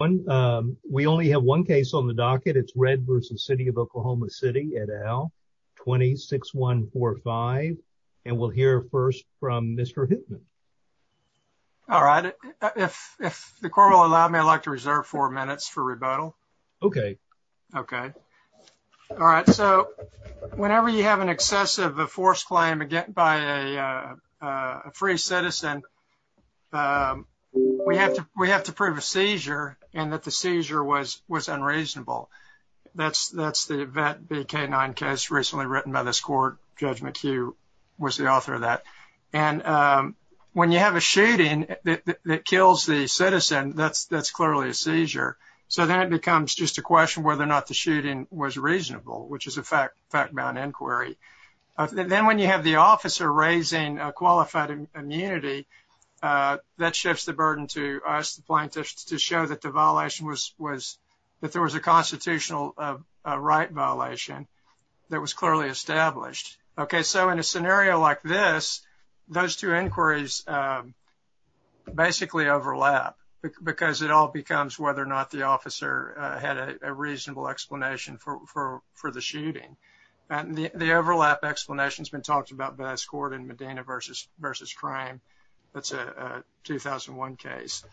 We only have one case on the docket. It's Red v. City of Oklahoma City et al. 26145. And we'll hear first from Mr. Hittman. All right. If the court will allow me, I'd like to reserve four minutes for rebuttal. Okay. Okay. All right. So whenever you have an excessive forced claim by a free citizen, then we have to prove a seizure and that the seizure was unreasonable. That's the Vet v. K9 case recently written by this court. Judge McHugh was the author of that. And when you have a shooting that kills the citizen, that's clearly a seizure. So then it becomes just a question of whether or not the shooting was reasonable, which is a fact-bound inquiry. Then when you have the officer raising qualified immunity, that shifts the burden to us plaintiffs to show that there was a constitutional right violation that was clearly established. Okay. So in a scenario like this, those two inquiries basically overlap because it all becomes whether or not the officer had a reasonable explanation for the shooting. The overlap explanation has been talked about by this court in Medina v. Crime. That's a 2001 case.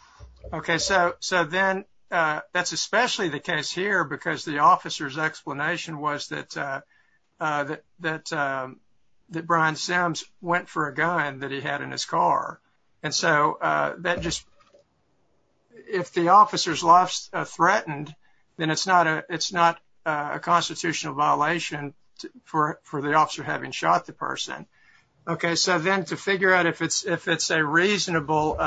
Okay. So then that's especially the case here because the officer's explanation was that Brian Sims went for a gun that he had in his car. And so that just, if the officer's life's threatened, then it's not a constitutional violation for the officer having shot the person. Okay. So then to figure out if it's a reasonable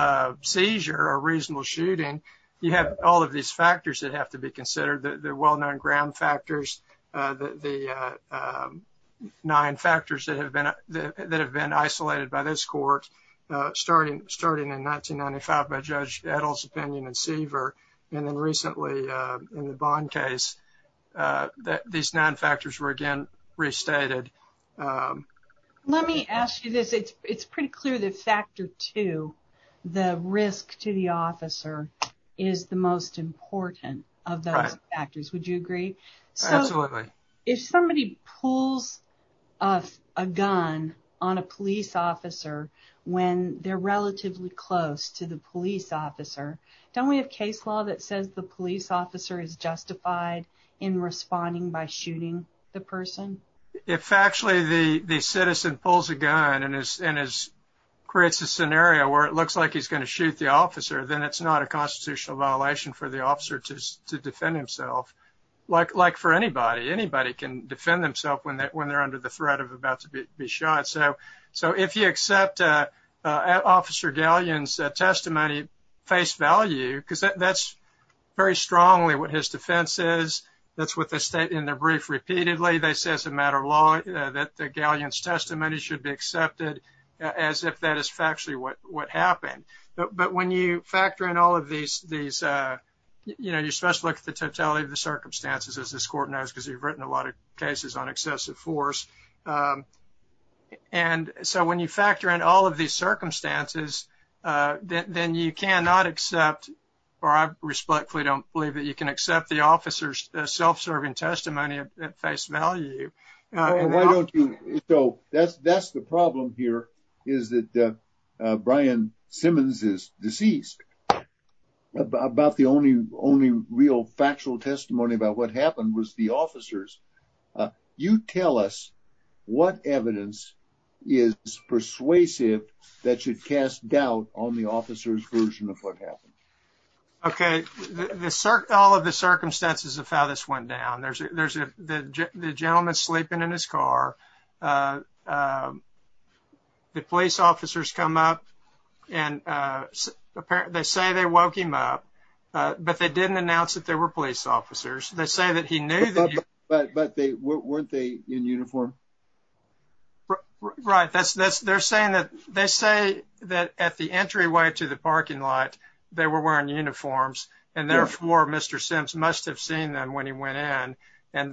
seizure or reasonable shooting, you have all of these factors that have to be considered, the well-known ground factors, the nine factors that have been isolated by this court, starting in 1995 by Judge Edel's opinion in Seaver, and then recently in the Bond case, these nine factors were again restated. Let me ask you this. It's pretty clear that factor two, the risk to the officer, is the most important of those factors. Would you agree? Absolutely. So if somebody pulls a gun on a police officer when they're relatively close to the police officer, don't we have case law that says the police officer is justified in responding by shooting the person? If actually the citizen pulls a gun and creates a scenario where it looks like he's not a constitutional violation for the officer to defend himself, like for anybody, anybody can defend themselves when they're under the threat of about to be shot. So if you accept Officer Galeon's testimony, face value, because that's very strongly what his defense is. That's what they state in their brief repeatedly. They say as a matter of law that Galeon's testimony should be these, you know, you're supposed to look at the totality of the circumstances as this court knows, because you've written a lot of cases on excessive force. And so when you factor in all of these circumstances, then you cannot accept, or I respectfully don't believe that you can accept the officer's self-serving testimony at face value. Why don't you, so that's the problem here, is that Brian Simmons is deceased. About the only real factual testimony about what happened was the officers. You tell us what evidence is persuasive that should cast doubt on the officer's version of what happened. Okay, all of the circumstances of how this went down. There's the gentleman sleeping in his car. The police officers come up and apparently, they say they woke him up, but they didn't announce that they were police officers. They say that he knew that. But weren't they in uniform? Right. They say that at the entryway to the parking lot, they were wearing uniforms, and therefore, Mr. Simms must have seen them when he went in.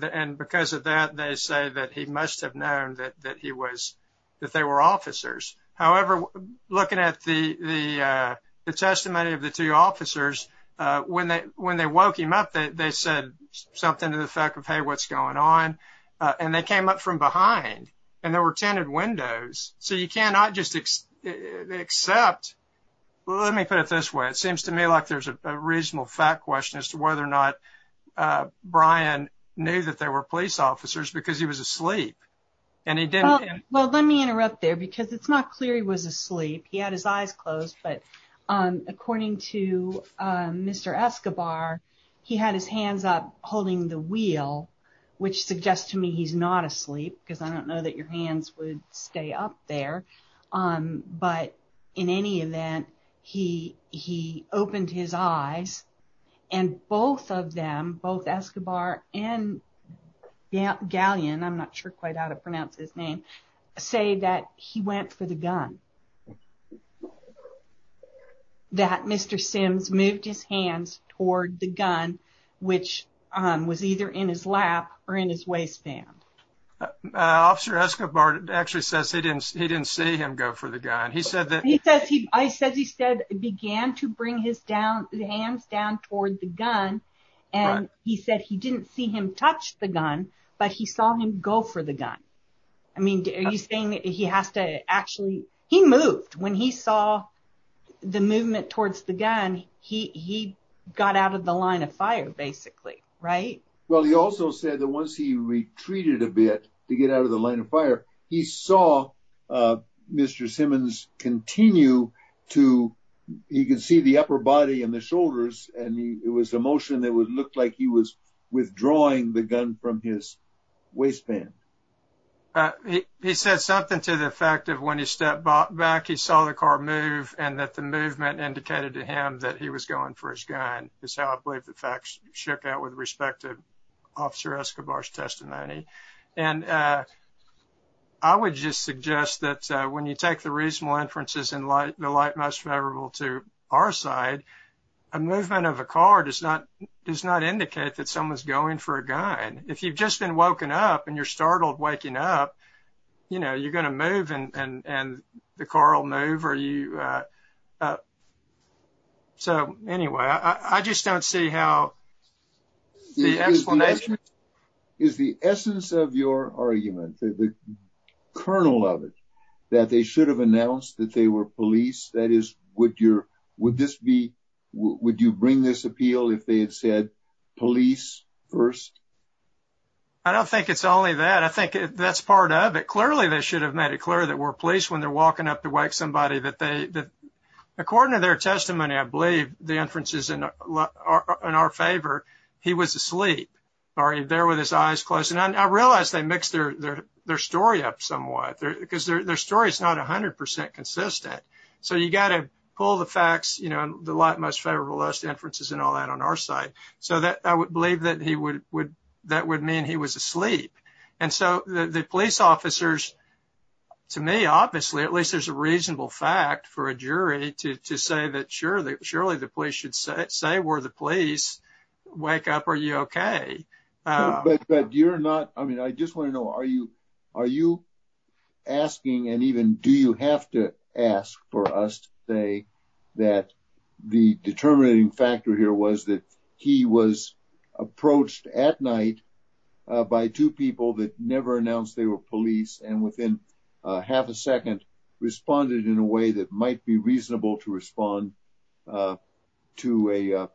And because of that, they say that he must have known that they were officers. However, looking at the testimony of the two officers, when they woke him up, they said something to the effect of, hey, what's going on? And they came up from behind, and there were tinted windows. So you cannot just accept. Let me put it this way. It seems to me like there's a reasonable fact question as to whether or not Brian knew that they were police officers because he was asleep, and he didn't. Well, let me interrupt there because it's not clear he was asleep. He had his eyes closed, but according to Mr. Escobar, he had his hands up holding the wheel, which suggests to me he's not asleep because I don't know that your hands would stay up there. But in any event, he opened his eyes, and both of them, both Escobar and Galleon, I'm not sure quite how to pronounce his name, say that he went for the gun. That Mr. Simms moved his hands toward the gun, which was either in his lap or in his waistband. Officer Escobar actually says he didn't see him go for the gun. I said he began to bring his hands down toward the gun, and he said he didn't see him touch the gun, but he saw him go for the gun. I mean, are you saying he has to actually... He moved. When he saw the movement towards the gun, he got out of the line of fire, basically, right? Well, he also said that once he retreated a bit to get out of the line of fire, he saw Mr. Simmons continue to... He could see the upper body and the shoulders, and it was a motion that looked like he was withdrawing the gun from his waistband. He said something to the effect of when he stepped back, he saw the car move, and that the movement indicated to him that he was going for his gun. That's how I believe the facts shook out with respect to Officer Escobar's testimony. I would just suggest that when you take the reasonable inferences and the light most favorable to our side, a movement of a car does not indicate that someone's going for a gun. If you've just been woken up and you're startled waking up, you're going to move and the car will move. Anyway, I just don't see how the explanation... Is the essence of your argument, the kernel of it, that they should have announced that they were police? That is, would you bring this appeal if they had said police first? I don't think it's only that. I think that's part of it. Clearly, they should have made it clear that we're police when they're accusing somebody. According to their testimony, I believe the inferences in our favor, he was asleep or there with his eyes closed. I realize they mixed their story up somewhat because their story is not 100% consistent. You got to pull the facts, the light most favorable to us, the inferences, and all that on our side. I would believe that would mean he was asleep. The police officers, to me, obviously, at least there's a reasonable fact for a jury to say that surely the police should say we're the police, wake up, are you okay? I just want to know, are you asking and even do you have to ask for us to say that the never announced they were police and within half a second responded in a way that might be reasonable to respond to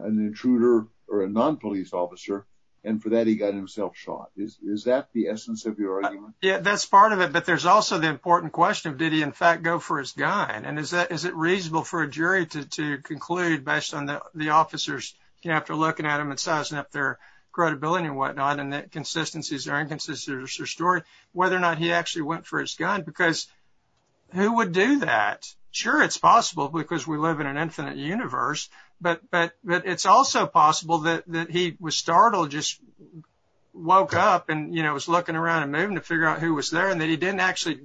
an intruder or a non-police officer and for that he got himself shot? Is that the essence of your argument? That's part of it, but there's also the important question of did he in fact go for his gun? Is it reasonable for a jury to conclude based on the inconsistencies or story whether or not he actually went for his gun because who would do that? Sure, it's possible because we live in an infinite universe, but it's also possible that he was startled, just woke up and was looking around and moving to figure out who was there and that he didn't actually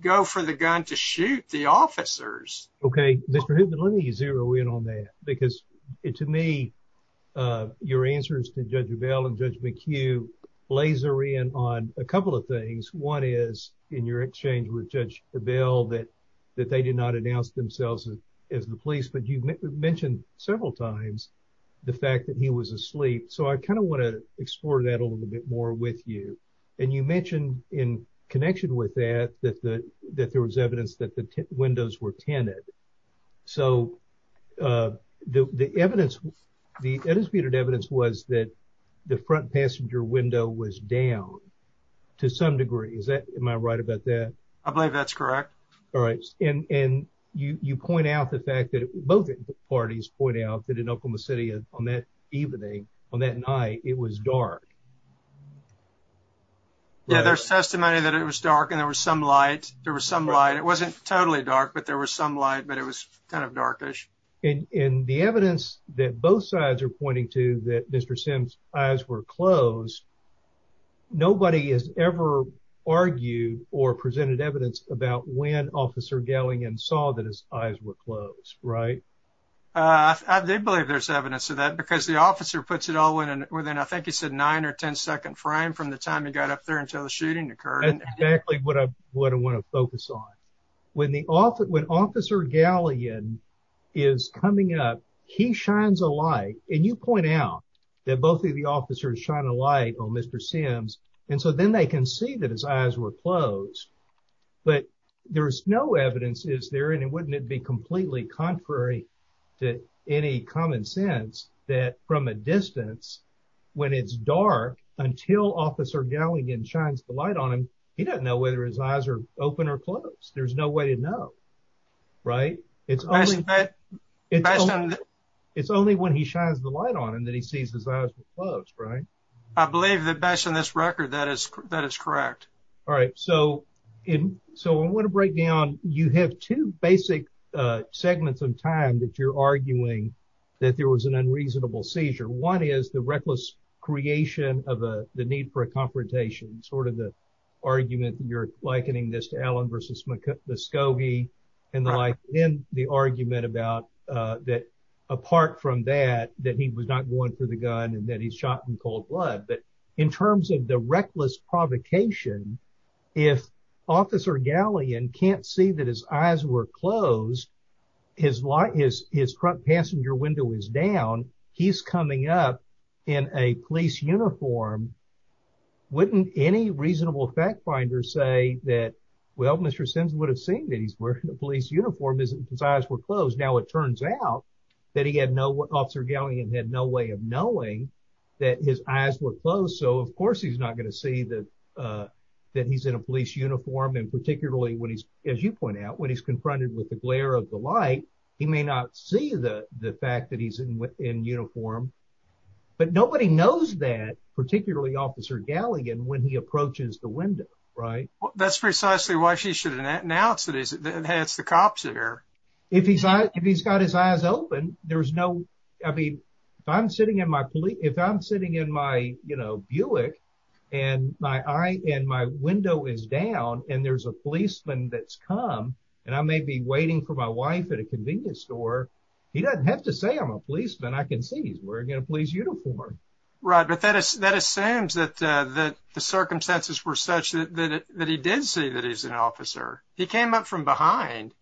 go for the gun to shoot the officers. Okay, let me zero in on that because to me your answers to Judge Avell and Judge McHugh blazer in on a couple of things. One is in your exchange with Judge Avell that they did not announce themselves as the police, but you mentioned several times the fact that he was asleep. So I kind of want to explore that a little bit more with you and you mentioned in connection with that that there was evidence that the windows were tinted. So the evidence, the evidence was that the front passenger window was down to some degree. Is that, am I right about that? I believe that's correct. All right, and you point out the fact that both parties point out that in Oklahoma City on that evening, on that night, it was dark. Yeah, there's testimony that it was dark and there was some light, there was some light. It wasn't totally dark, but there was some light, but it was kind of darkish. And the evidence that both sides are pointing to that Mr. Sims eyes were closed, nobody has ever argued or presented evidence about when Officer Gellingen saw that his eyes were closed, right? I did believe there's evidence of that because the officer puts it all in within, I think he said, nine or ten second frame from the time he got up there until the shooting occurred. That's exactly what I want to focus on. When Officer Gellingen is coming up, he shines a light, and you point out that both of the officers shine a light on Mr. Sims, and so then they can see that his eyes were closed. But there's no evidence, is there, and wouldn't it be completely contrary to any common sense that from a distance, when it's dark until Officer Gellingen shines the light on him, he doesn't know whether his eyes are open or closed. There's no way to know, right? It's only when he shines the light on him that he sees his eyes were closed, right? I believe that based on this record, that is correct. All right, so I want to break down, you have two basic segments of time that you're arguing that there was an unreasonable seizure. One is the reckless creation of the need for a confrontation, sort of the argument you're likening this to Allen versus the Scobie, and the argument about that apart from that, that he was not going for the gun and that he's shot in cold blood. But in terms of the reckless provocation, if Officer Gellingen can't see his eyes were closed, his front passenger window is down, he's coming up in a police uniform, wouldn't any reasonable fact finder say that, well, Mr. Sims would have seen that he's wearing a police uniform, his eyes were closed. Now it turns out that Officer Gellingen had no way of knowing that his eyes were closed, so of course he's not going to see that he's in a police uniform and particularly when he's, as you point out, when he's confronted with the glare of the light, he may not see the fact that he's in uniform. But nobody knows that, particularly Officer Gellingen, when he approaches the window, right? That's precisely why she should announce that it's the cops in there. If he's got his eyes open, there's no, I mean, if I'm sitting in my Buick and my window is down and there's a policeman that's come and I may be waiting for my wife at a convenience store, he doesn't have to say I'm a policeman, I can see he's wearing a police uniform. Right, but that assumes that the circumstances were such that he did see that he's an officer. He came up from behind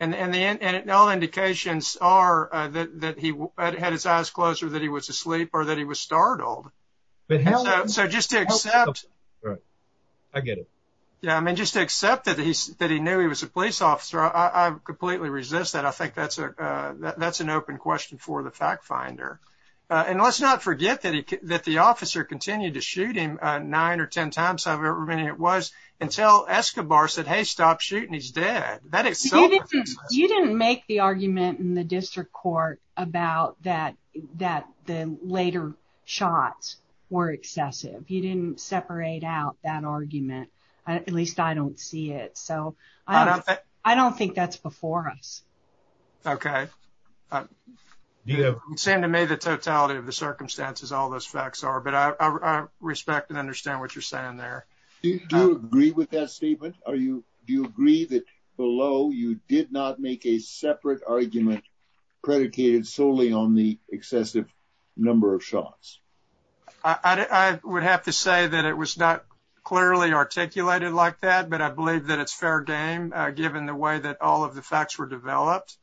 and all indications are that he had his eyes closed or that he was asleep or that he was startled. So just to accept that he knew he was a police officer, I completely resist that. I think that's an open question for the fact finder. And let's not forget that the officer continued to shoot him nine or ten times, however many it was, until Escobar said, hey, stop shooting, he's dead. You didn't make the argument in the district court about that, that the later shots were excessive. You didn't separate out that argument. At least I don't see it, so I don't think that's before us. Okay, you seem to me the totality of the circumstances, all those facts are, but I respect and understand what you're saying there. Do you agree with that statement? Are you, do you agree that below you did not make a separate argument predicated solely on the excessive number of shots? I would have to say that it was not clearly articulated like that, but I believe that it's fair game given the way that all of the facts were developed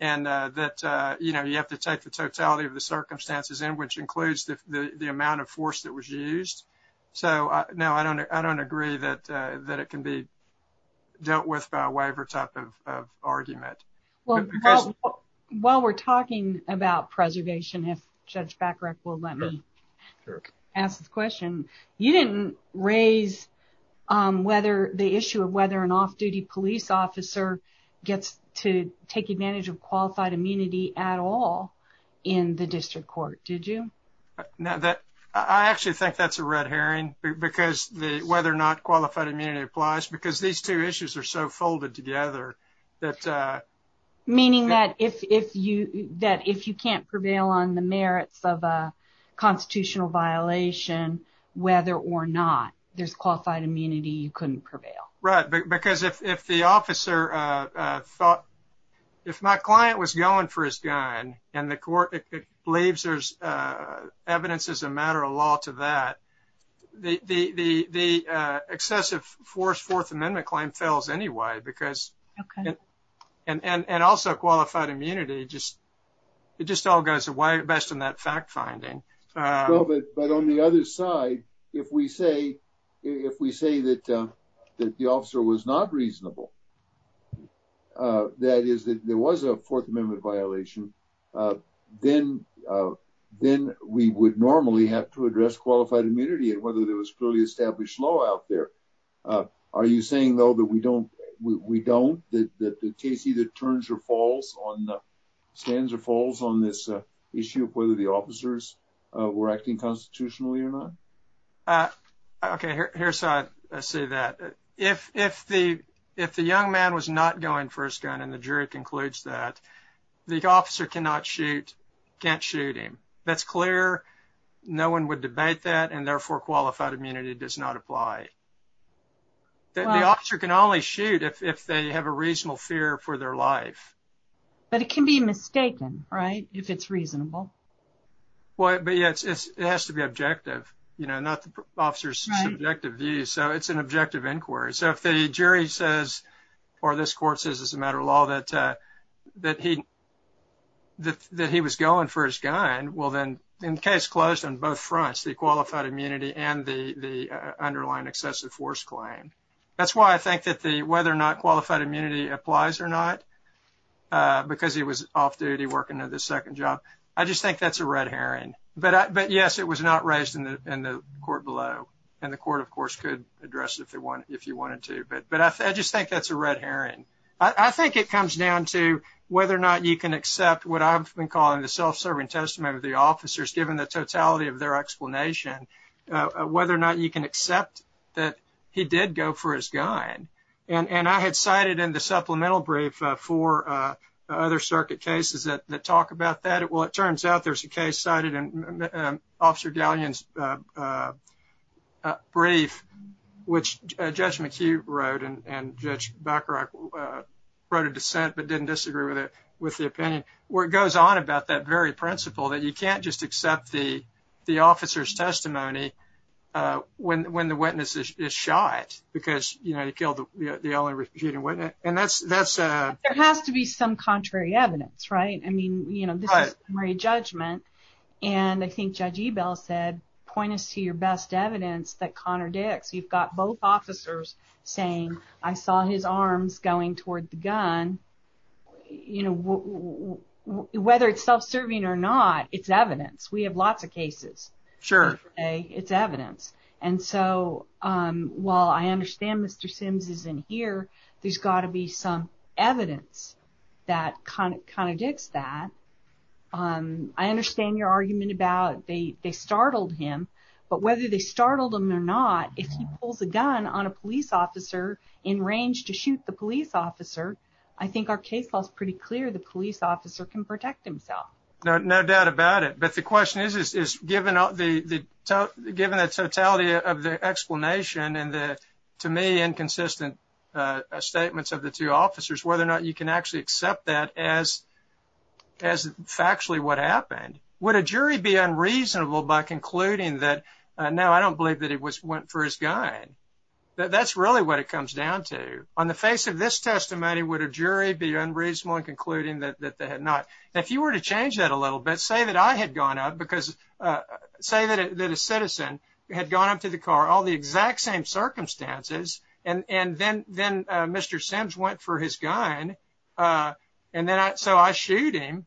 and that, you know, you have to take the totality of the circumstances in which includes the amount of force that was used. So no, I don't agree that it can be with a waiver type of argument. Well, while we're talking about preservation, if Judge Backrek will let me ask this question, you didn't raise whether the issue of whether an off-duty police officer gets to take advantage of qualified immunity at all in the district court, did you? No, that, I actually think that's a red herring because the whether or not qualified immunity applies because these two issues are so folded together. Meaning that if you, that if you can't prevail on the merits of a constitutional violation, whether or not there's qualified immunity, you couldn't prevail. Right, because if the officer thought, if my client was going for his gun and the court believes there's evidence as a matter of law to that, the excessive fourth amendment claim fails anyway because, and also qualified immunity just, it just all goes away best in that fact finding. Well, but on the other side, if we say that the officer was not reasonable, that is, that there was a fourth ammunity and whether there was clearly established law out there. Are you saying, though, that we don't, we don't, that the case either turns or falls on, stands or falls on this issue of whether the officers were acting constitutionally or not? Okay, here's how I see that. If the young man was not going for his gun and the jury concludes that the officer cannot shoot, can't shoot him, that's clear, no one would debate that and therefore qualified immunity does not apply. The officer can only shoot if they have a reasonable fear for their life. But it can be mistaken, right, if it's reasonable. Well, but yeah, it has to be objective, you know, not the officer's subjective view. So, it's an objective inquiry. So, if the jury concludes that he, that he was going for his gun, well, then the case closed on both fronts, the qualified immunity and the underlying excessive force claim. That's why I think that the, whether or not qualified immunity applies or not, because he was off duty working at the second job, I just think that's a red herring. But yes, it was not raised in the court below, and the court, of course, could address it if they want, if you wanted to. But I just think that's a red herring. I think it comes down to whether or not you can accept what I've been calling the self-serving testament of the officers, given the totality of their explanation, whether or not you can accept that he did go for his gun. And I had cited in the supplemental brief four other circuit cases that talk about that. Well, it turns out there's a case cited in Judge McHugh wrote, and Judge Bacharach wrote a dissent, but didn't disagree with it, with the opinion, where it goes on about that very principle that you can't just accept the officer's testimony when the witness is shot, because, you know, he killed the only refuting witness. And that's, that's a... There has to be some contrary evidence, right? I mean, you know, this is summary judgment. And I think Judge Ebell said, point us to your best evidence that contradicts. You've got both officers saying, I saw his arms going toward the gun. You know, whether it's self-serving or not, it's evidence. We have lots of cases. Sure. Today, it's evidence. And so, while I understand Mr. Sims is in here, there's got to be some evidence that kind of contradicts that. I understand your argument about they startled him, but whether they startled him or not, if he pulls a gun on a police officer in range to shoot the police officer, I think our case law is pretty clear. The police officer can protect himself. No doubt about it. But the question is, is given the totality of the explanation and the, to me, inconsistent statements of the two officers, whether or not you can actually accept that as factually what happened. Would a jury be unreasonable by concluding that, no, I don't believe that he went for his gun? That's really what it comes down to. On the face of this testimony, would a jury be unreasonable in concluding that they had not? If you were to change that a little bit, say that I had gone up because, say that a citizen had gone up to the car, all the exact same circumstances, and then Mr. Sims went for his gun. And then so I shoot him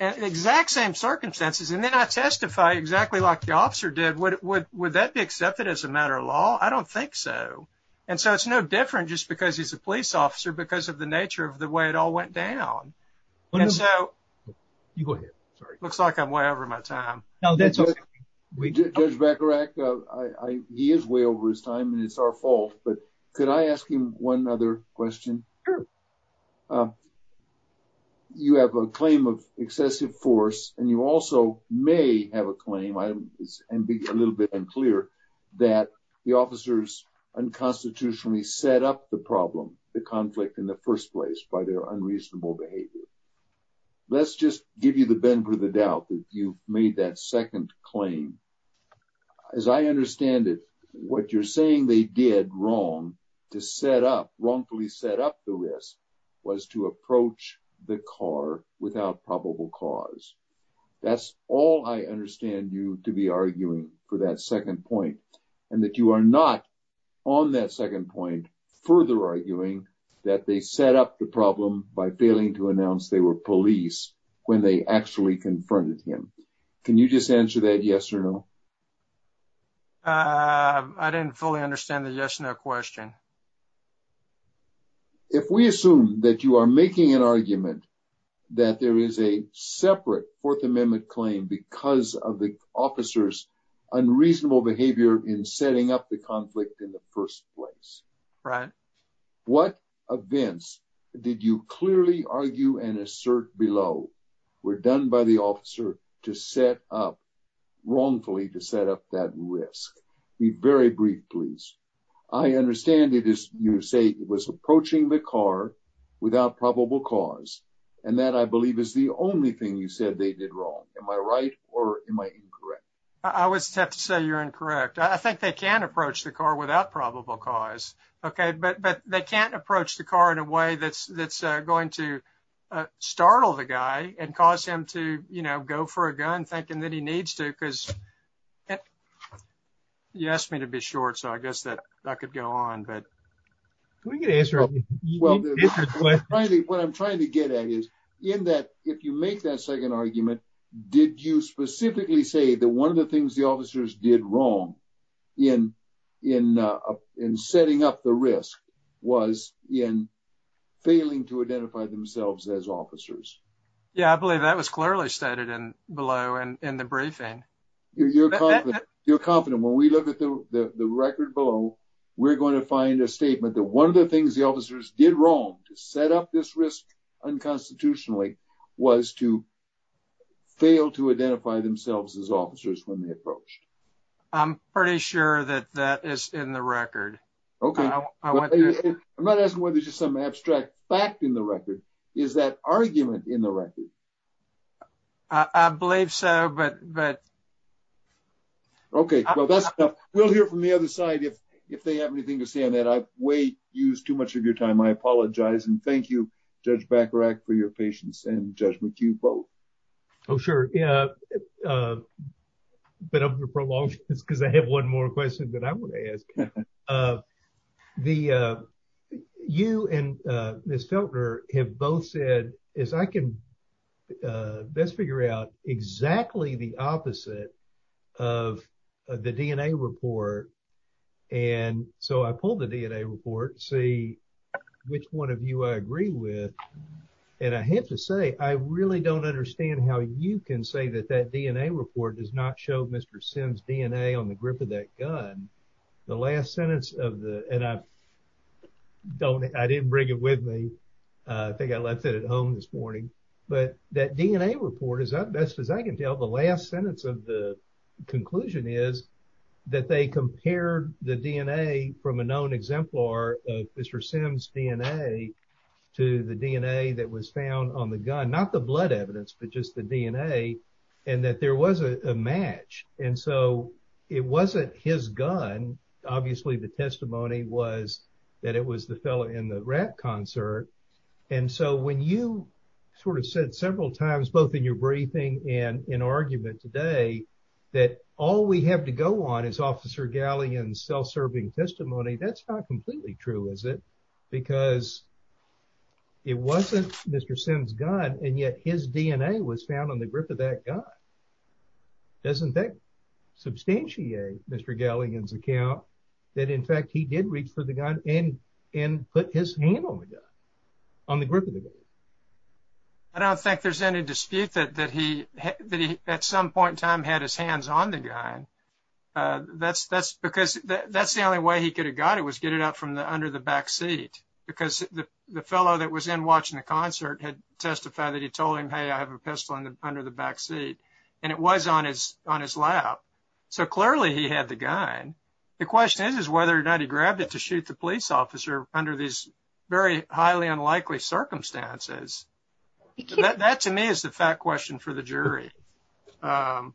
at the exact same circumstances. And then I testify exactly like the officer did. Would that be accepted as a matter of law? I don't think so. And so it's no different just because he's a police officer because of the nature of the way it all went down. And so, you go ahead. Looks like I'm way over my time. No, that's okay. Judge Bacharach, he is way over his time and it's our fault. But could I ask him one other question? Sure. You have a claim of excessive force and you also may have a claim, and be a little bit unclear, that the officers unconstitutionally set up the problem, the conflict in the first place, by their unreasonable behavior. Let's just give you the bend for the doubt that you made that second claim. As I understand it, what you're saying they did wrong to set up, wrongfully set up the risk, was to approach the car without probable cause. That's all I understand you to be arguing for that second point. And that you are not on that second point further arguing that they set up the problem by failing to announce they were police when they actually confronted him. Can you just answer that yes or no? I didn't fully understand the yes or no question. If we assume that you are making an argument that there is a separate Fourth Amendment claim because of the officer's unreasonable behavior in setting up the conflict in the first place, right? What events did you clearly argue and assert below were done by the officer to set up, wrongfully to set up that risk? Be very brief please. I understand it is you say it was approaching the car without probable cause and that I believe is the only thing you said they did wrong. Am I right or am I incorrect? I would have to say you're incorrect. I think they can approach the car without probable cause, okay? But they can't approach the car in a way that's going to startle the guy and cause him to go for a gun thinking that he needs to because you asked me to be short so I guess that could go on. What I'm trying to get at is in that if you make that second argument, did you specifically say that one of the things the officers did wrong in setting up the risk was in failing to identify themselves as officers? Yeah, I believe that was clearly stated below in the briefing. You're confident when we look at the record below, we're going to find a statement that one of the things the officers did wrong to set up this risk unconstitutionally was to identify themselves as officers when they approached. I'm pretty sure that that is in the record. Okay, I'm not asking whether there's just some abstract fact in the record. Is that argument in the record? I believe so but... Okay, well that's enough. We'll hear from the other side if if they have anything to say on that. I've way used too much of your time. I apologize and thank you for your patience and judgment you both. Oh sure, yeah but I'm going to prolong this because I have one more question that I want to ask. You and Ms. Feltner have both said is I can best figure out exactly the opposite of the DNA report and so I pulled the DNA report to see which one of you I agree with and I have to say I really don't understand how you can say that that DNA report does not show Mr. Sims DNA on the grip of that gun. The last sentence of the and I don't I didn't bring it with me. I think I left it at home this morning but that DNA report is that best as I can tell the last sentence of the conclusion is that they compared the DNA from a known exemplar of Mr. Sims DNA to the DNA that was found on the gun. Not the blood evidence but just the DNA and that there was a match and so it wasn't his gun. Obviously the testimony was that it was the fellow in the rap concert and so when you sort of said several times both in your testimony that's not completely true is it because it wasn't Mr. Sims gun and yet his DNA was found on the grip of that gun. Doesn't that substantiate Mr. Galligan's account that in fact he did reach for the gun and put his hand on the gun on the grip of the gun? I don't think there's any dispute that he that he at some point in time had his hands on the gun. That's that's because that's the only way he could have got it was get it up from the under the back seat because the fellow that was in watching the concert had testified that he told him hey I have a pistol under the back seat and it was on his on his lap. So clearly he had the gun. The question is whether or not he grabbed it to shoot the police officer under these very highly unlikely circumstances. That to me is a fat question for the jury. Yeah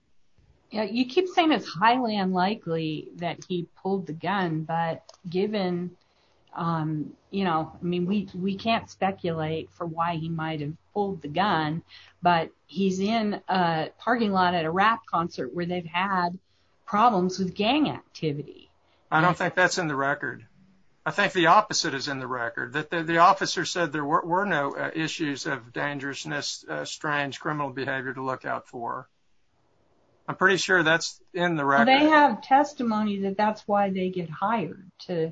you keep saying it's highly unlikely that he pulled the gun but given you know I mean we we can't speculate for why he might have pulled the gun but he's in a parking lot at a rap concert where they've had problems with gang activity. I don't think that's in the record. I think the opposite is in the record that the officer said there were no issues of dangerousness, strange criminal behavior to look out for. I'm pretty sure that's in the record. They have testimony that that's why they get hired to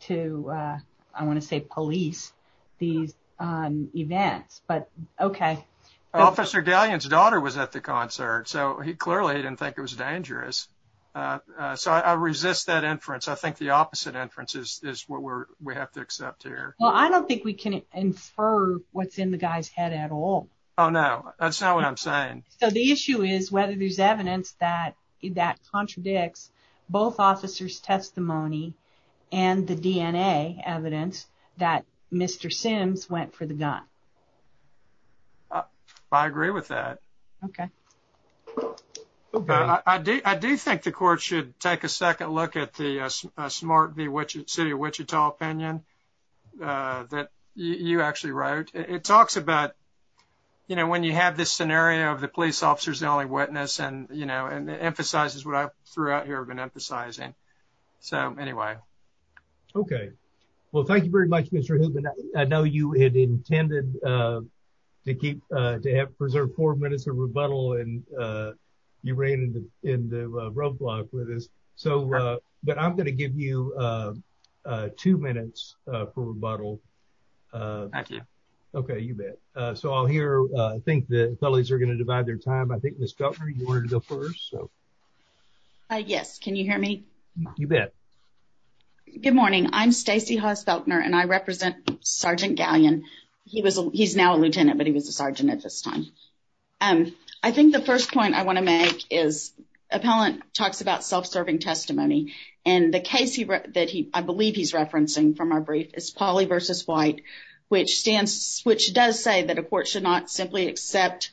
to uh I want to say police these um events but okay. Officer Galeon's daughter was at the concert so he clearly didn't think it was dangerous uh so I resist that inference. I think the opposite inference is is what we're we have to accept here. Well I don't think we can infer what's in the guy's head at all. Oh no that's not what I'm saying. So the issue is whether there's evidence that that contradicts both officers testimony and the DNA evidence that Mr. Sims went for the gun. I agree with that. Okay. Okay. I do I do think the court should take a second look at the uh Smart v. City of Wichita opinion uh that you actually wrote. It talks about you know when you have this scenario of the police officer's the only witness and you know and it emphasizes what I throughout here have been emphasizing. So anyway. Okay well thank you very much Mr. Hillman. I know you had intended uh to keep uh to have preserved four minutes of rebuttal and uh you ran into in the roadblock with this. So uh but I'm going to give you uh uh two minutes uh for rebuttal. Thank you. Okay you bet. Uh so I'll hear uh I think the felonies are going to divide their time. I think Ms. Feltner you wanted to go first. Yes. Can you hear me? You bet. Good morning. I'm Stacey Haas Feltner and I represent Sergeant Galleon. He was he's now a lieutenant but he was a sergeant at this time. Um I think the first point I want to make is appellant talks about self-serving testimony and the case he wrote that he I believe he's referencing from our brief is Pauley v. White which stands which does say that a court should not simply accept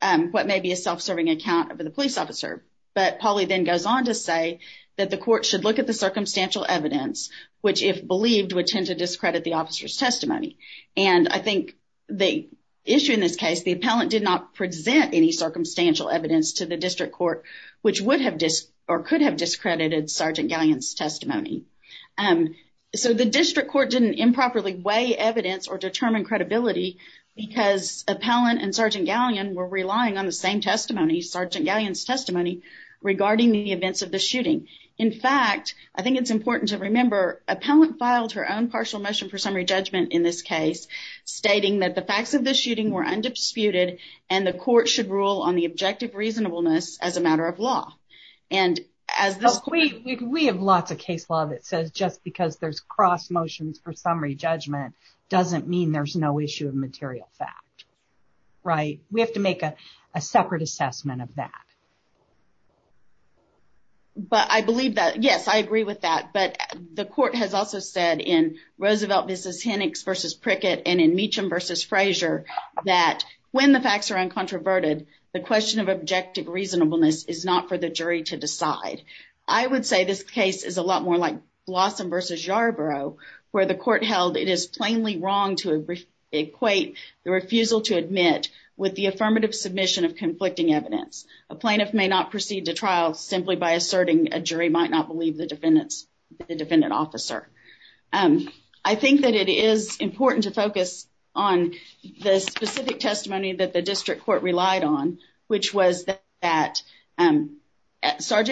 um what may be a self-serving account of the police officer. But Pauley then goes on to say that the court should look at the circumstantial evidence which if believed would tend to discredit the officer's testimony. And I think the issue in this case the appellant did not present any circumstantial evidence to the district court which would have disc or could have discredited Sergeant Galleon's testimony. Um so the district court didn't improperly weigh evidence or determine credibility because appellant and Sergeant Galleon were relying on the same testimony Sergeant Galleon's testimony regarding the events of the shooting. In fact I think it's important to remember appellant filed her own partial motion for summary judgment in this case stating that the facts of the shooting were undisputed and the court should rule on the objective reasonableness as a matter of law. And as this we we have lots of case law that says just because there's cross motions for summary judgment doesn't mean there's no issue of material fact. Right? We have to make a separate assessment of that. But I believe that yes I agree with that but the court has also said in Roosevelt versus Hennix versus Prickett and in Meacham versus Frazier that when the facts are uncontroverted the question of objective reasonableness is not for the jury to decide. I would say this case is a lot more like Blossom versus Yarborough where the court held it is plainly wrong to equate the refusal to admit with the affirmative submission of conflicting evidence. A plaintiff may not proceed to trial simply by asserting a jury might not believe the defendant's the defendant officer. I think that it is important to focus on the specific testimony that the district court relied on which was that Sgt.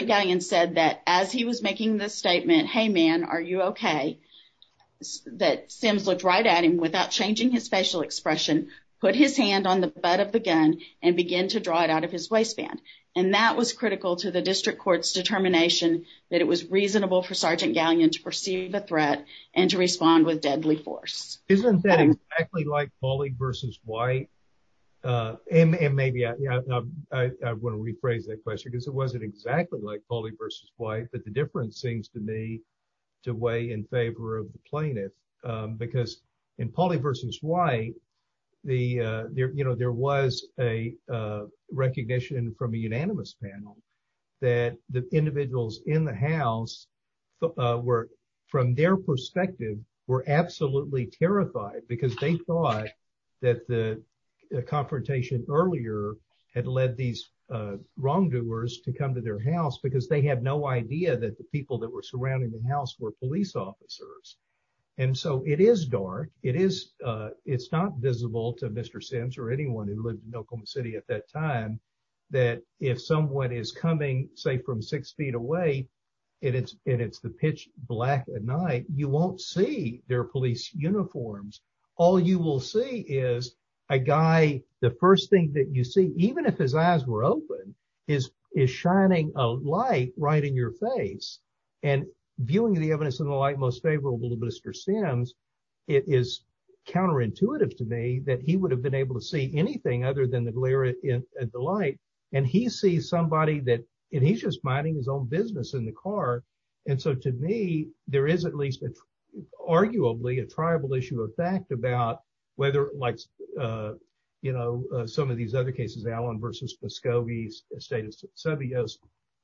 Gallion said that as he was making the statement hey man are you okay that Sims looked right at him without changing his facial expression put his hand on the butt of the gun and begin to draw it out of his waistband. And that was critical to the district court's determination that it was reasonable for Sgt. Gallion to perceive the threat and to respond with deadly force. Isn't that exactly like Pauley versus White and maybe I want to rephrase that question because it wasn't exactly like Pauley versus White but the difference seems to me to weigh in favor of the plaintiff because in Pauley versus White the you know there was a recognition from a unanimous panel that the individuals in the house were from their perspective were absolutely terrified because they thought that the confrontation earlier had led these wrongdoers to come to their house because they had no idea that the people that were surrounding the house were police officers. And so it is dark it is it's not visible to Mr. Sims or anyone who lived in Oklahoma City at that time that if someone is coming say from six feet away and it's and it's the pitch black at night you won't see their police uniforms all you will see is a guy the first thing that you see even if his eyes were open is is shining a light right in your face and viewing the evidence in the light most favorable to Mr. Sims it is counterintuitive to me that he would have been able to see anything other than the glare in the light and he sees somebody that and he's just minding his own business in the car and so to me there is at least arguably a tribal issue of fact about whether like you know some of these other cases Allen versus Muscogee State of Seville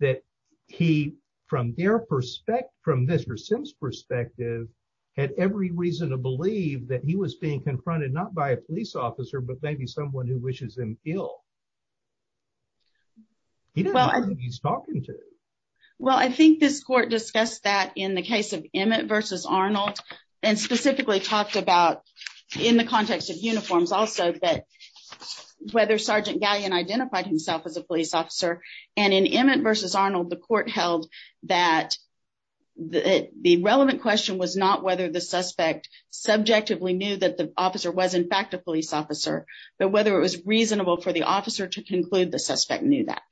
that he from their perspective from Mr. Sims perspective had every reason to believe that he was being confronted not by a police officer but maybe someone who wishes him ill he's talking to well I think this court discussed that in the case of Emmett versus Arnold and specifically talked about in the context of uniforms also that whether Sergeant Galleon identified himself as a police officer and in Emmett versus Arnold the court held that the relevant question was not whether the suspect subjectively knew that the officer was in fact a police officer but whether it was reasonable for the officer to conclude the suspect knew that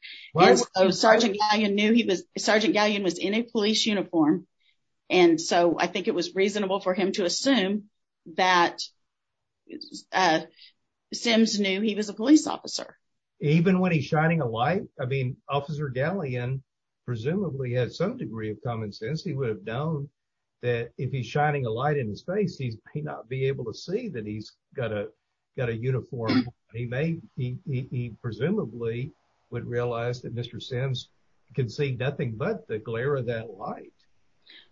Sergeant Galleon knew he was Sergeant Galleon was in a police uniform and so I think it was reasonable for him to assume that Sims knew he was a police officer even when he's shining a light I mean Officer Galleon presumably had some degree of common that he's got a got a uniform he may he presumably would realize that Mr. Sims can see nothing but the glare of that light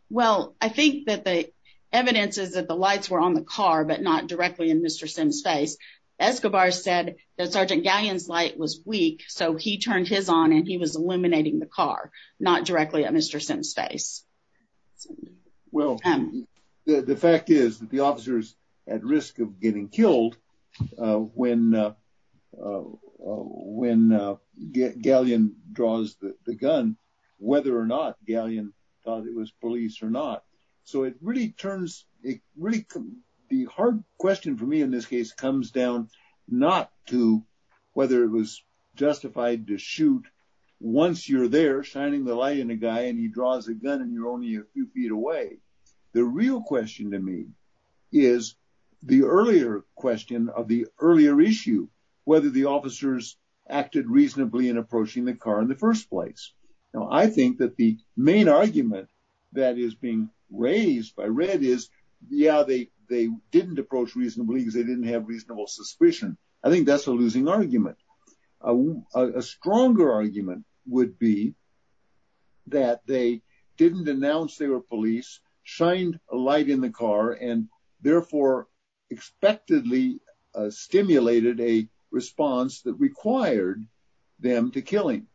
well I think that the evidence is that the lights were on the car but not directly in Mr. Sims face Escobar said that Sergeant Galleon's light was weak so he turned his on and he was illuminating the car not directly at Mr. Sims face well the fact is that the officers at risk of getting killed when when Galleon draws the gun whether or not Galleon thought it was police or not so it really turns it really the hard question for me in this case comes down not to whether it was justified to shoot once you're there shining the light on a guy and he the earlier question of the earlier issue whether the officers acted reasonably in approaching the car in the first place now I think that the main argument that is being raised by red is yeah they they didn't approach reasonably because they didn't have reasonable suspicion I think that's a losing argument a stronger argument would be that they didn't announce they were police shined a light in the car and therefore expectedly stimulated a response that required them to killing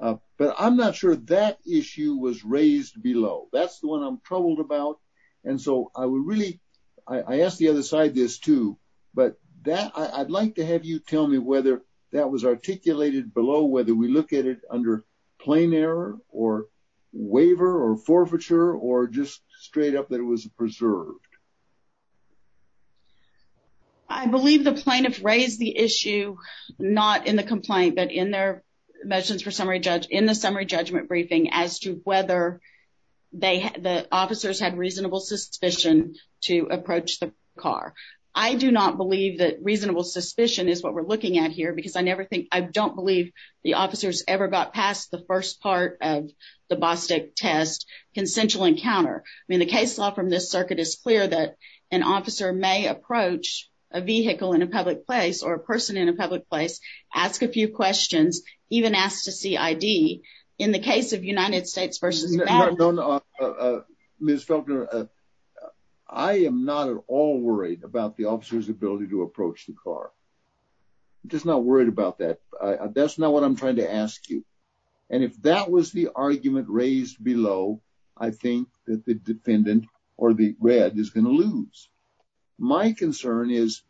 but I'm not sure that issue was raised below that's the one I'm troubled about and so I would really I ask the other side this too but that I'd like to have you tell me whether that was articulated below whether we look at it under plain error or waiver or straight up that it was preserved I believe the plaintiff raised the issue not in the complaint but in their measurements for summary judge in the summary judgment briefing as to whether they the officers had reasonable suspicion to approach the car I do not believe that reasonable suspicion is what we're looking at here because I never think I don't believe the officers ever got past the first part of the Bostic test consensual encounter I mean the case law from this circuit is clear that an officer may approach a vehicle in a public place or a person in a public place ask a few questions even ask to see ID in the case of United States versus Ms. Felkner I am not at all worried about the officer's ability to approach the car just not worried about that that's not what I'm trying to ask you and if that was the argument raised below I think that the defendant or the red is going to lose my concern is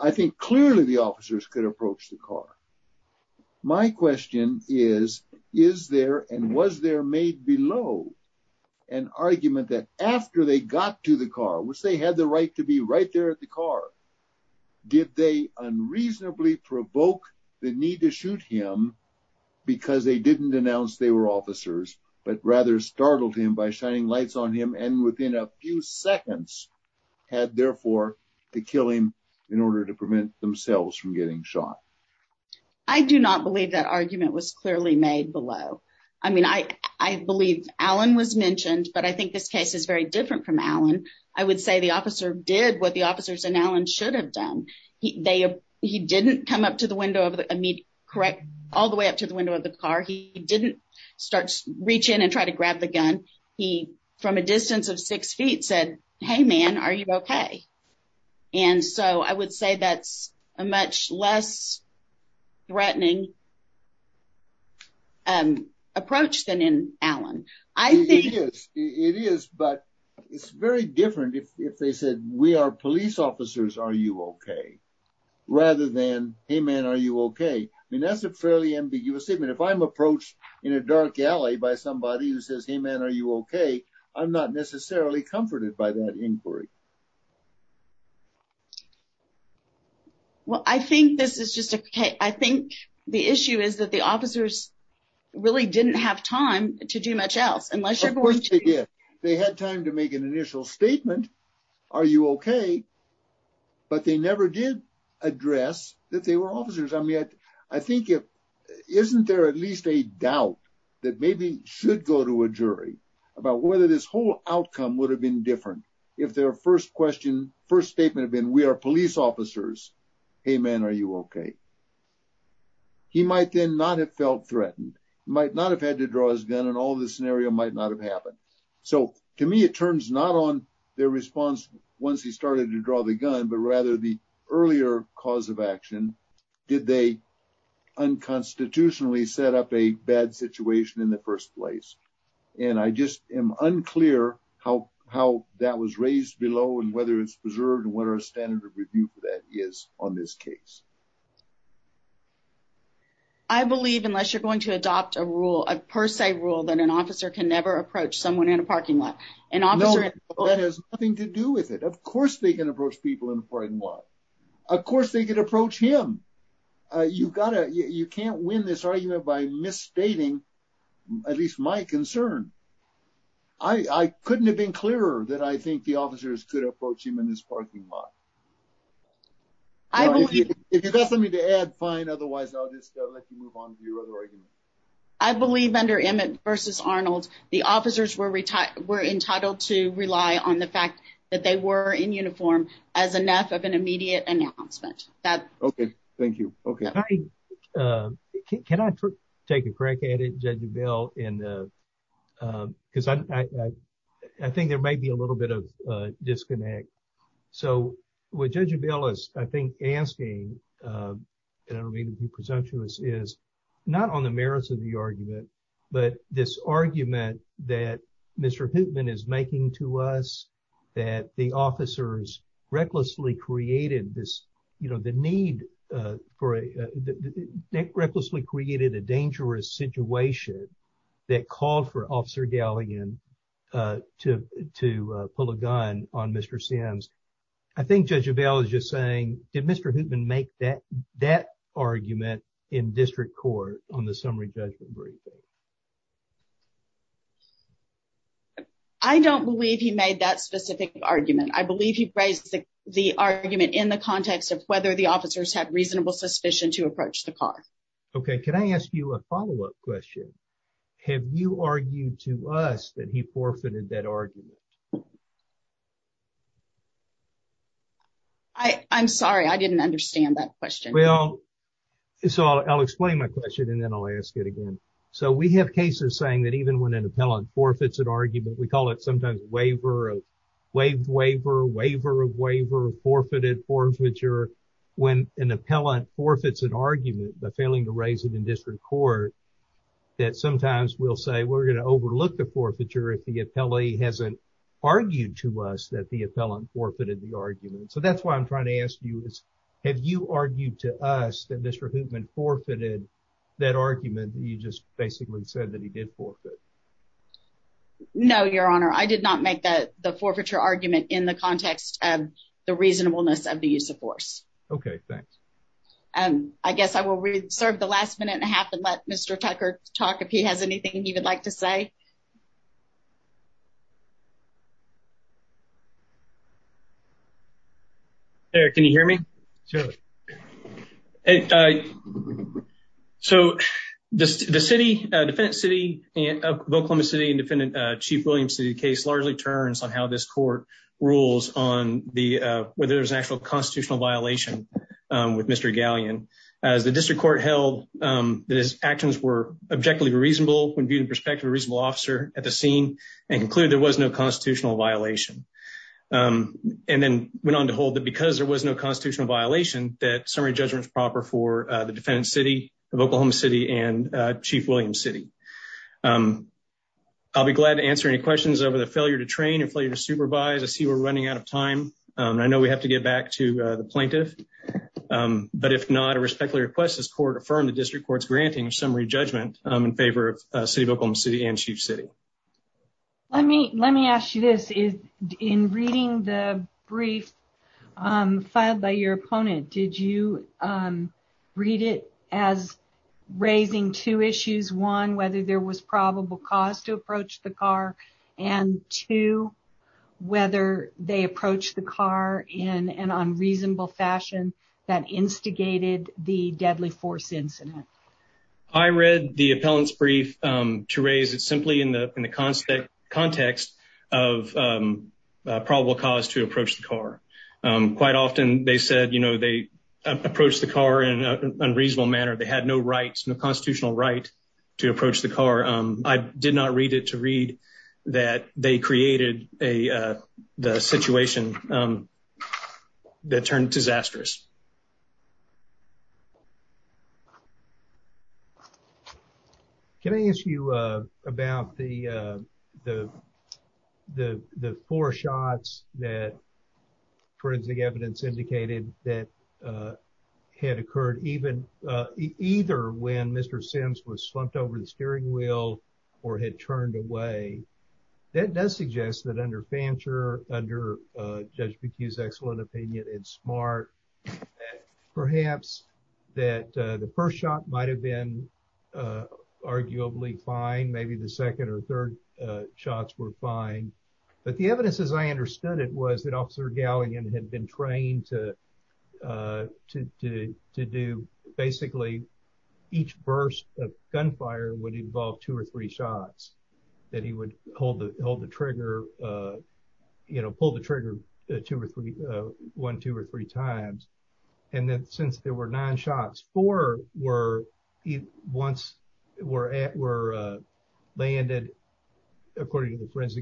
I think clearly the officers could approach the car my question is is there and was there made below an argument that after they got to the car which they had the right to be right there at the car did they unreasonably provoke the need to shoot him because they didn't announce they were officers but rather startled him by shining lights on him and within a few seconds had therefore to kill him in order to prevent themselves from getting shot I do not believe that argument was clearly made below I mean I I believe Alan was mentioned but I think this case is very different from Alan I would say the officer did what the officers and Alan should have done he they he didn't come up to the window of the immediate correct all the way up to the window of the car he didn't start reach in and try to grab the gun he from a distance of six feet said hey man are you okay and so I would say that's a much less threatening approach than in Alan I think it is but it's very different if they said we are police officers are you okay rather than hey man are you okay I mean that's a fairly ambiguous statement if I'm approached in a dark alley by somebody who says hey man are you okay I'm not necessarily comforted by that inquiry well I think this is just okay I think the issue is that the officers really didn't have time to do much unless they had time to make an initial statement are you okay but they never did address that they were officers I'm yet I think if isn't there at least a doubt that maybe should go to a jury about whether this whole outcome would have been different if their first question first statement had been we are police officers hey man are you okay he might then not have felt threatened might not have had to draw his gun and all this scenario might not have happened so to me it turns not on their response once he started to draw the gun but rather the earlier cause of action did they unconstitutionally set up a bad situation in the first place and I just am unclear how how that was raised below and whether it's preserved and what our standard review for that is on this case I believe unless you're going to adopt a rule a per se rule that an officer can never approach someone in a parking lot an officer that has nothing to do with it of course they can approach people in a frightened lot of course they could approach him uh you've gotta you can't win this argument by misstating at least my concern I I couldn't have been clearer that I think the officers could approach him in this parking lot if you got something to add fine otherwise I'll just let you move on to your other argument I believe under Emmett versus Arnold the officers were retired were entitled to rely on the fact that they were in uniform as enough of an immediate announcement that okay thank you okay uh can I take a crack at it Judge Abell and uh uh because I I think there may be a little bit of uh disconnect so what Judge Abell is I think asking uh and I don't mean to be presumptuous is not on the merits of the argument but this argument that Mr. Hoopman is making to us that the officers recklessly created this you know the need uh for a recklessly created a dangerous situation that called for Officer Galligan uh to to pull a gun on Mr. Sims I think Judge Abell is just saying did Mr. Hoopman make that that argument in district court on the summary judgment briefing I don't believe he made that specific argument I believe he raised the the argument in the context of whether the officers have reasonable suspicion to approach the car okay can I ask you a follow-up question have you argued to us that he forfeited that argument I I'm sorry I didn't understand that question well so I'll explain my question and then I'll again so we have cases saying that even when an appellant forfeits an argument we call it sometimes waiver of waived waiver waiver of waiver of forfeited forfeiture when an appellant forfeits an argument by failing to raise it in district court that sometimes we'll say we're going to overlook the forfeiture if the appellee hasn't argued to us that the appellant forfeited the argument so that's why I'm trying to ask you is have you argued to us that Mr. Hoopman forfeited that argument you just basically said that he did forfeit no your honor I did not make that the forfeiture argument in the context of the reasonableness of the use of force okay thanks um I guess I will reserve the last minute and a half and let Mr. Tucker talk if he has anything he would like to say Eric can you hear me sure and uh so just the city uh defendant city and of Oklahoma City and defendant uh chief Williams city case largely turns on how this court rules on the uh whether there's an actual constitutional violation um with Mr. Galleon as the district court held um that his actions were objectively reasonable when viewed in perspective a reasonable officer at the scene and concluded there was no constitutional violation um and then went on to hold that because there was no constitutional violation that summary judgment is proper for uh the defendant city of Oklahoma City and uh chief Williams city um I'll be glad to answer any questions over the failure to train and failure to supervise I see we're running out of time um I know we have to get back to the plaintiff um but if not I respectfully request this court affirm the district court's granting of summary judgment um in favor of in reading the brief um filed by your opponent did you um read it as raising two issues one whether there was probable cause to approach the car and two whether they approached the car in an unreasonable fashion that instigated the deadly force incident I read the appellant's to raise it simply in the in the concept context of um probable cause to approach the car um quite often they said you know they approached the car in an unreasonable manner they had no rights no constitutional right to approach the car um I did not read it to read that they created a uh situation um that turned disastrous can I ask you uh about the uh the the the four shots that forensic evidence indicated that uh had occurred even uh either when Mr. Sims was slumped over the steering wheel or had turned away that does suggest that under Fancher under uh Judge McHugh's excellent opinion and smart perhaps that uh the first shot might have been uh arguably fine maybe the second or third uh shots were fine but the evidence as I understood it was that Officer Galligan had been trained to uh to to do basically each burst of gunfire would involve two or three shots that he would hold the hold the trigger uh you know pull the trigger two or three uh one two or three times and then since there were nine shots four were once were at were uh landed according to the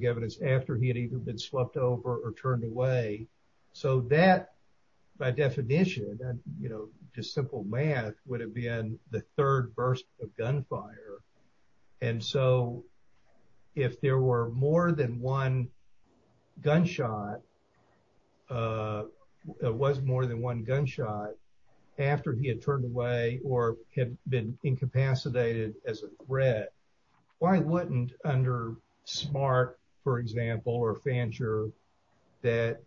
by definition and you know just simple math would have been the third burst of gunfire and so if there were more than one gunshot uh it was more than one gunshot after he had turned away or had been incapacitated as a threat why wouldn't under smart for example or Fancher that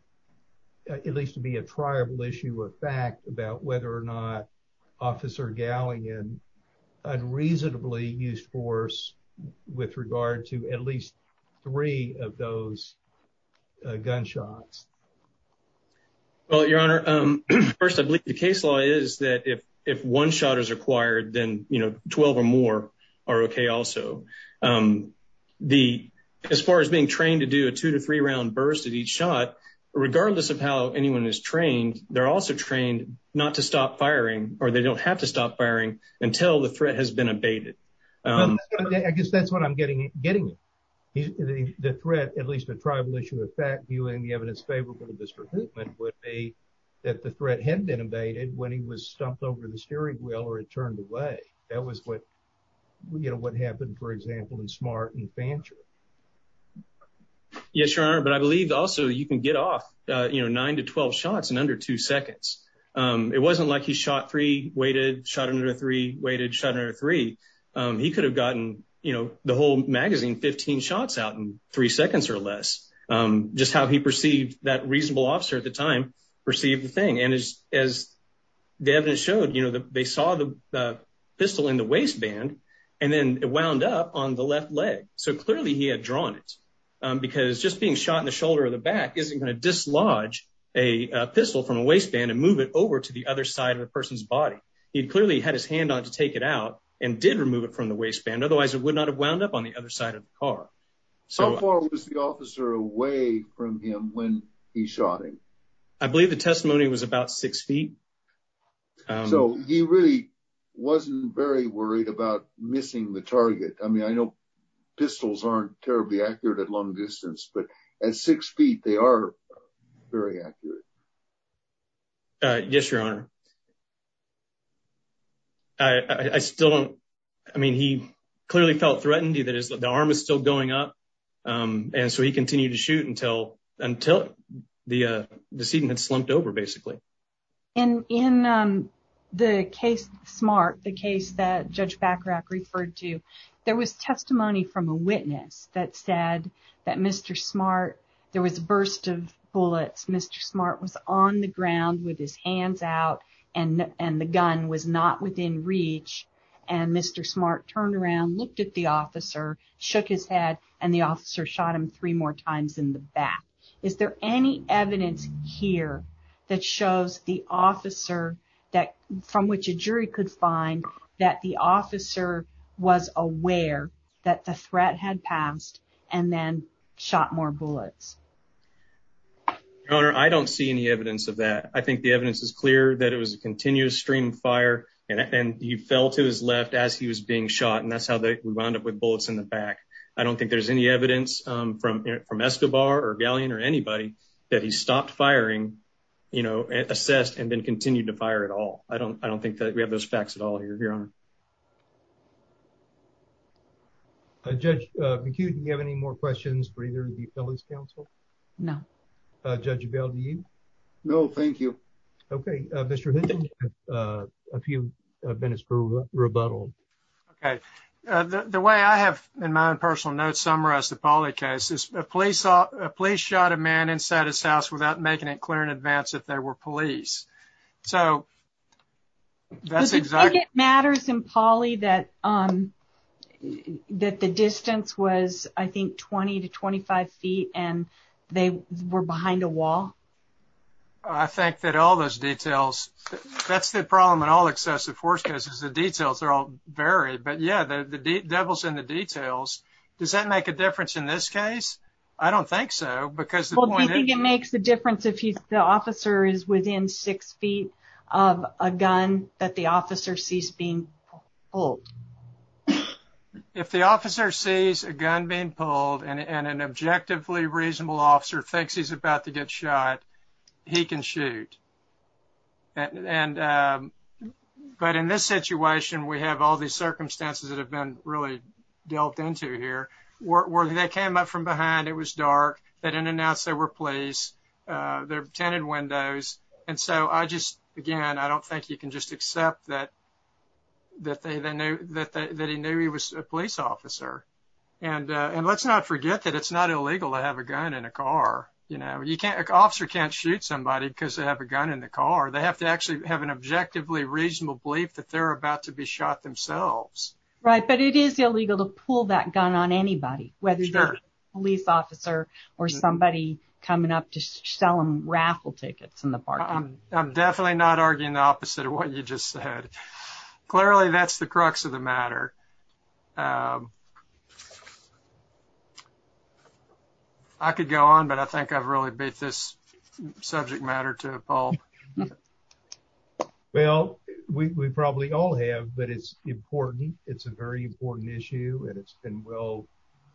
at least to be a triable issue or fact about whether or not Officer Galligan unreasonably used force with regard to at least three of those gunshots well your honor um first I believe the case law is that if if one shot is required then you know 12 or more are okay also um the as far as being trained to do a two to three round burst at each shot regardless of how anyone is trained they're also trained not to stop firing or they don't have to stop firing until the threat has been abated I guess that's what I'm getting getting the threat at least a tribal issue of fact viewing the evidence favorable to this recruitment would be that the threat had been abated when he was stumped over the steering wheel or it turned away that was what you know what happened for example in smart and Fancher yes your honor but I believe also you can get off uh you know nine to twelve shots in under two seconds um it wasn't like he shot three weighted shot under three weighted shutter three um he could have gotten you know the whole magazine 15 shots out in three seconds or less um just how he perceived that reasonable officer at the time perceived the thing and as as the evidence showed they saw the pistol in the waistband and then it wound up on the left leg so clearly he had drawn it because just being shot in the shoulder or the back isn't going to dislodge a pistol from a waistband and move it over to the other side of the person's body he clearly had his hand on to take it out and did remove it from the waistband otherwise it would not have wound up on the other side of the car so how far was the officer away from him when he shot him I believe the testimony was about six feet so he really wasn't very worried about missing the target I mean I know pistols aren't terribly accurate at long distance but at six feet they are very accurate yes your honor I I still don't I mean he clearly felt threatened he that is the arm is still going up um and so he continued to shoot until until the uh decedent had slumped over basically and in um the case smart the case that Judge Bacharach referred to there was testimony from a witness that said that Mr. Smart there was a burst of bullets Mr. Smart was on the ground with his hands out and and the gun was not within reach and Mr. Smart turned around looked at the officer shook his head and the officer shot him three more times in the back is there any evidence here that shows the officer that from which a jury could find that the officer was aware that the threat had passed and then shot more bullets your honor I don't see any evidence of that I think the evidence is clear that it was a continuous stream of fire and he fell to his left as he was being shot and that's how they we wound up with bullets in the back I don't think there's any evidence um from from Escobar or galleon or anybody that he stopped firing you know assessed and then continued to fire at all I don't I don't think that we have those facts at all here your honor uh Judge McHugh do you have any more questions for either the felon's counsel no uh no thank you okay uh Mr. Hinton uh a few uh minutes for rebuttal okay uh the the way I have in my own personal notes summarize the poly case is a police saw a police shot a man inside his house without making it clear in advance that there were police so that's exactly it matters in poly that um that the distance was I think 20 to 25 feet and they were behind a wall I think that all those details that's the problem in all excessive force cases the details are all varied but yeah the the devil's in the details does that make a difference in this case I don't think so because the point I think it makes the difference if he's the officer is within six feet of a gun that the officer sees being pulled if the officer sees a gun being pulled and an objectively reasonable officer thinks he's about to get shot he can shoot and um but in this situation we have all these circumstances that have been really delved into here where they came up from behind it was dark they didn't announce they were police uh their tenant windows and so I just again I don't think you can just accept that that they they knew that they that he knew he was a police officer and uh and let's not forget that it's not illegal to have a gun in a car you know you can't officer can't shoot somebody because they have a gun in the car they have to actually have an objectively reasonable belief that they're about to be shot themselves right but it is illegal to pull that gun on anybody whether you're a police officer or somebody coming up to sell them raffle tickets in the park I'm definitely not arguing the opposite of what you just said clearly that's the crux of the matter I could go on but I think I've really beat this subject matter to a pulp well we probably all have but it's important it's a very important issue and it's been well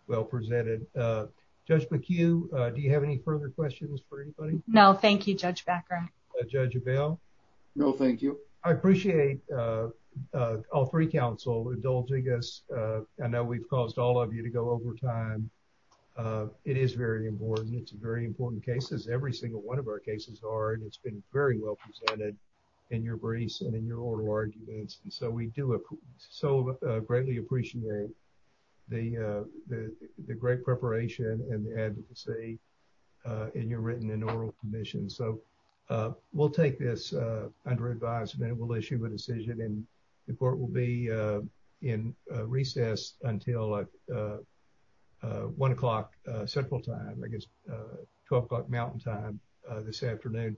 well presented uh Judge McHugh uh do you have any further questions for anybody no thank you Judge Baccarin uh Judge Avell no thank you I appreciate uh uh all three counsel indulging us uh I know we've caused all of you to go over time uh it is very important it's a very important case as every single one of our cases are and it's been very well presented in your briefs and in your oral arguments and so we do so greatly appreciate the uh the great preparation and the advocacy uh in your written and oral commission so uh we'll take this uh under advisement we'll issue a decision and the court will be uh in recess until uh uh one o'clock central time I guess uh 12 o'clock mountain time uh this afternoon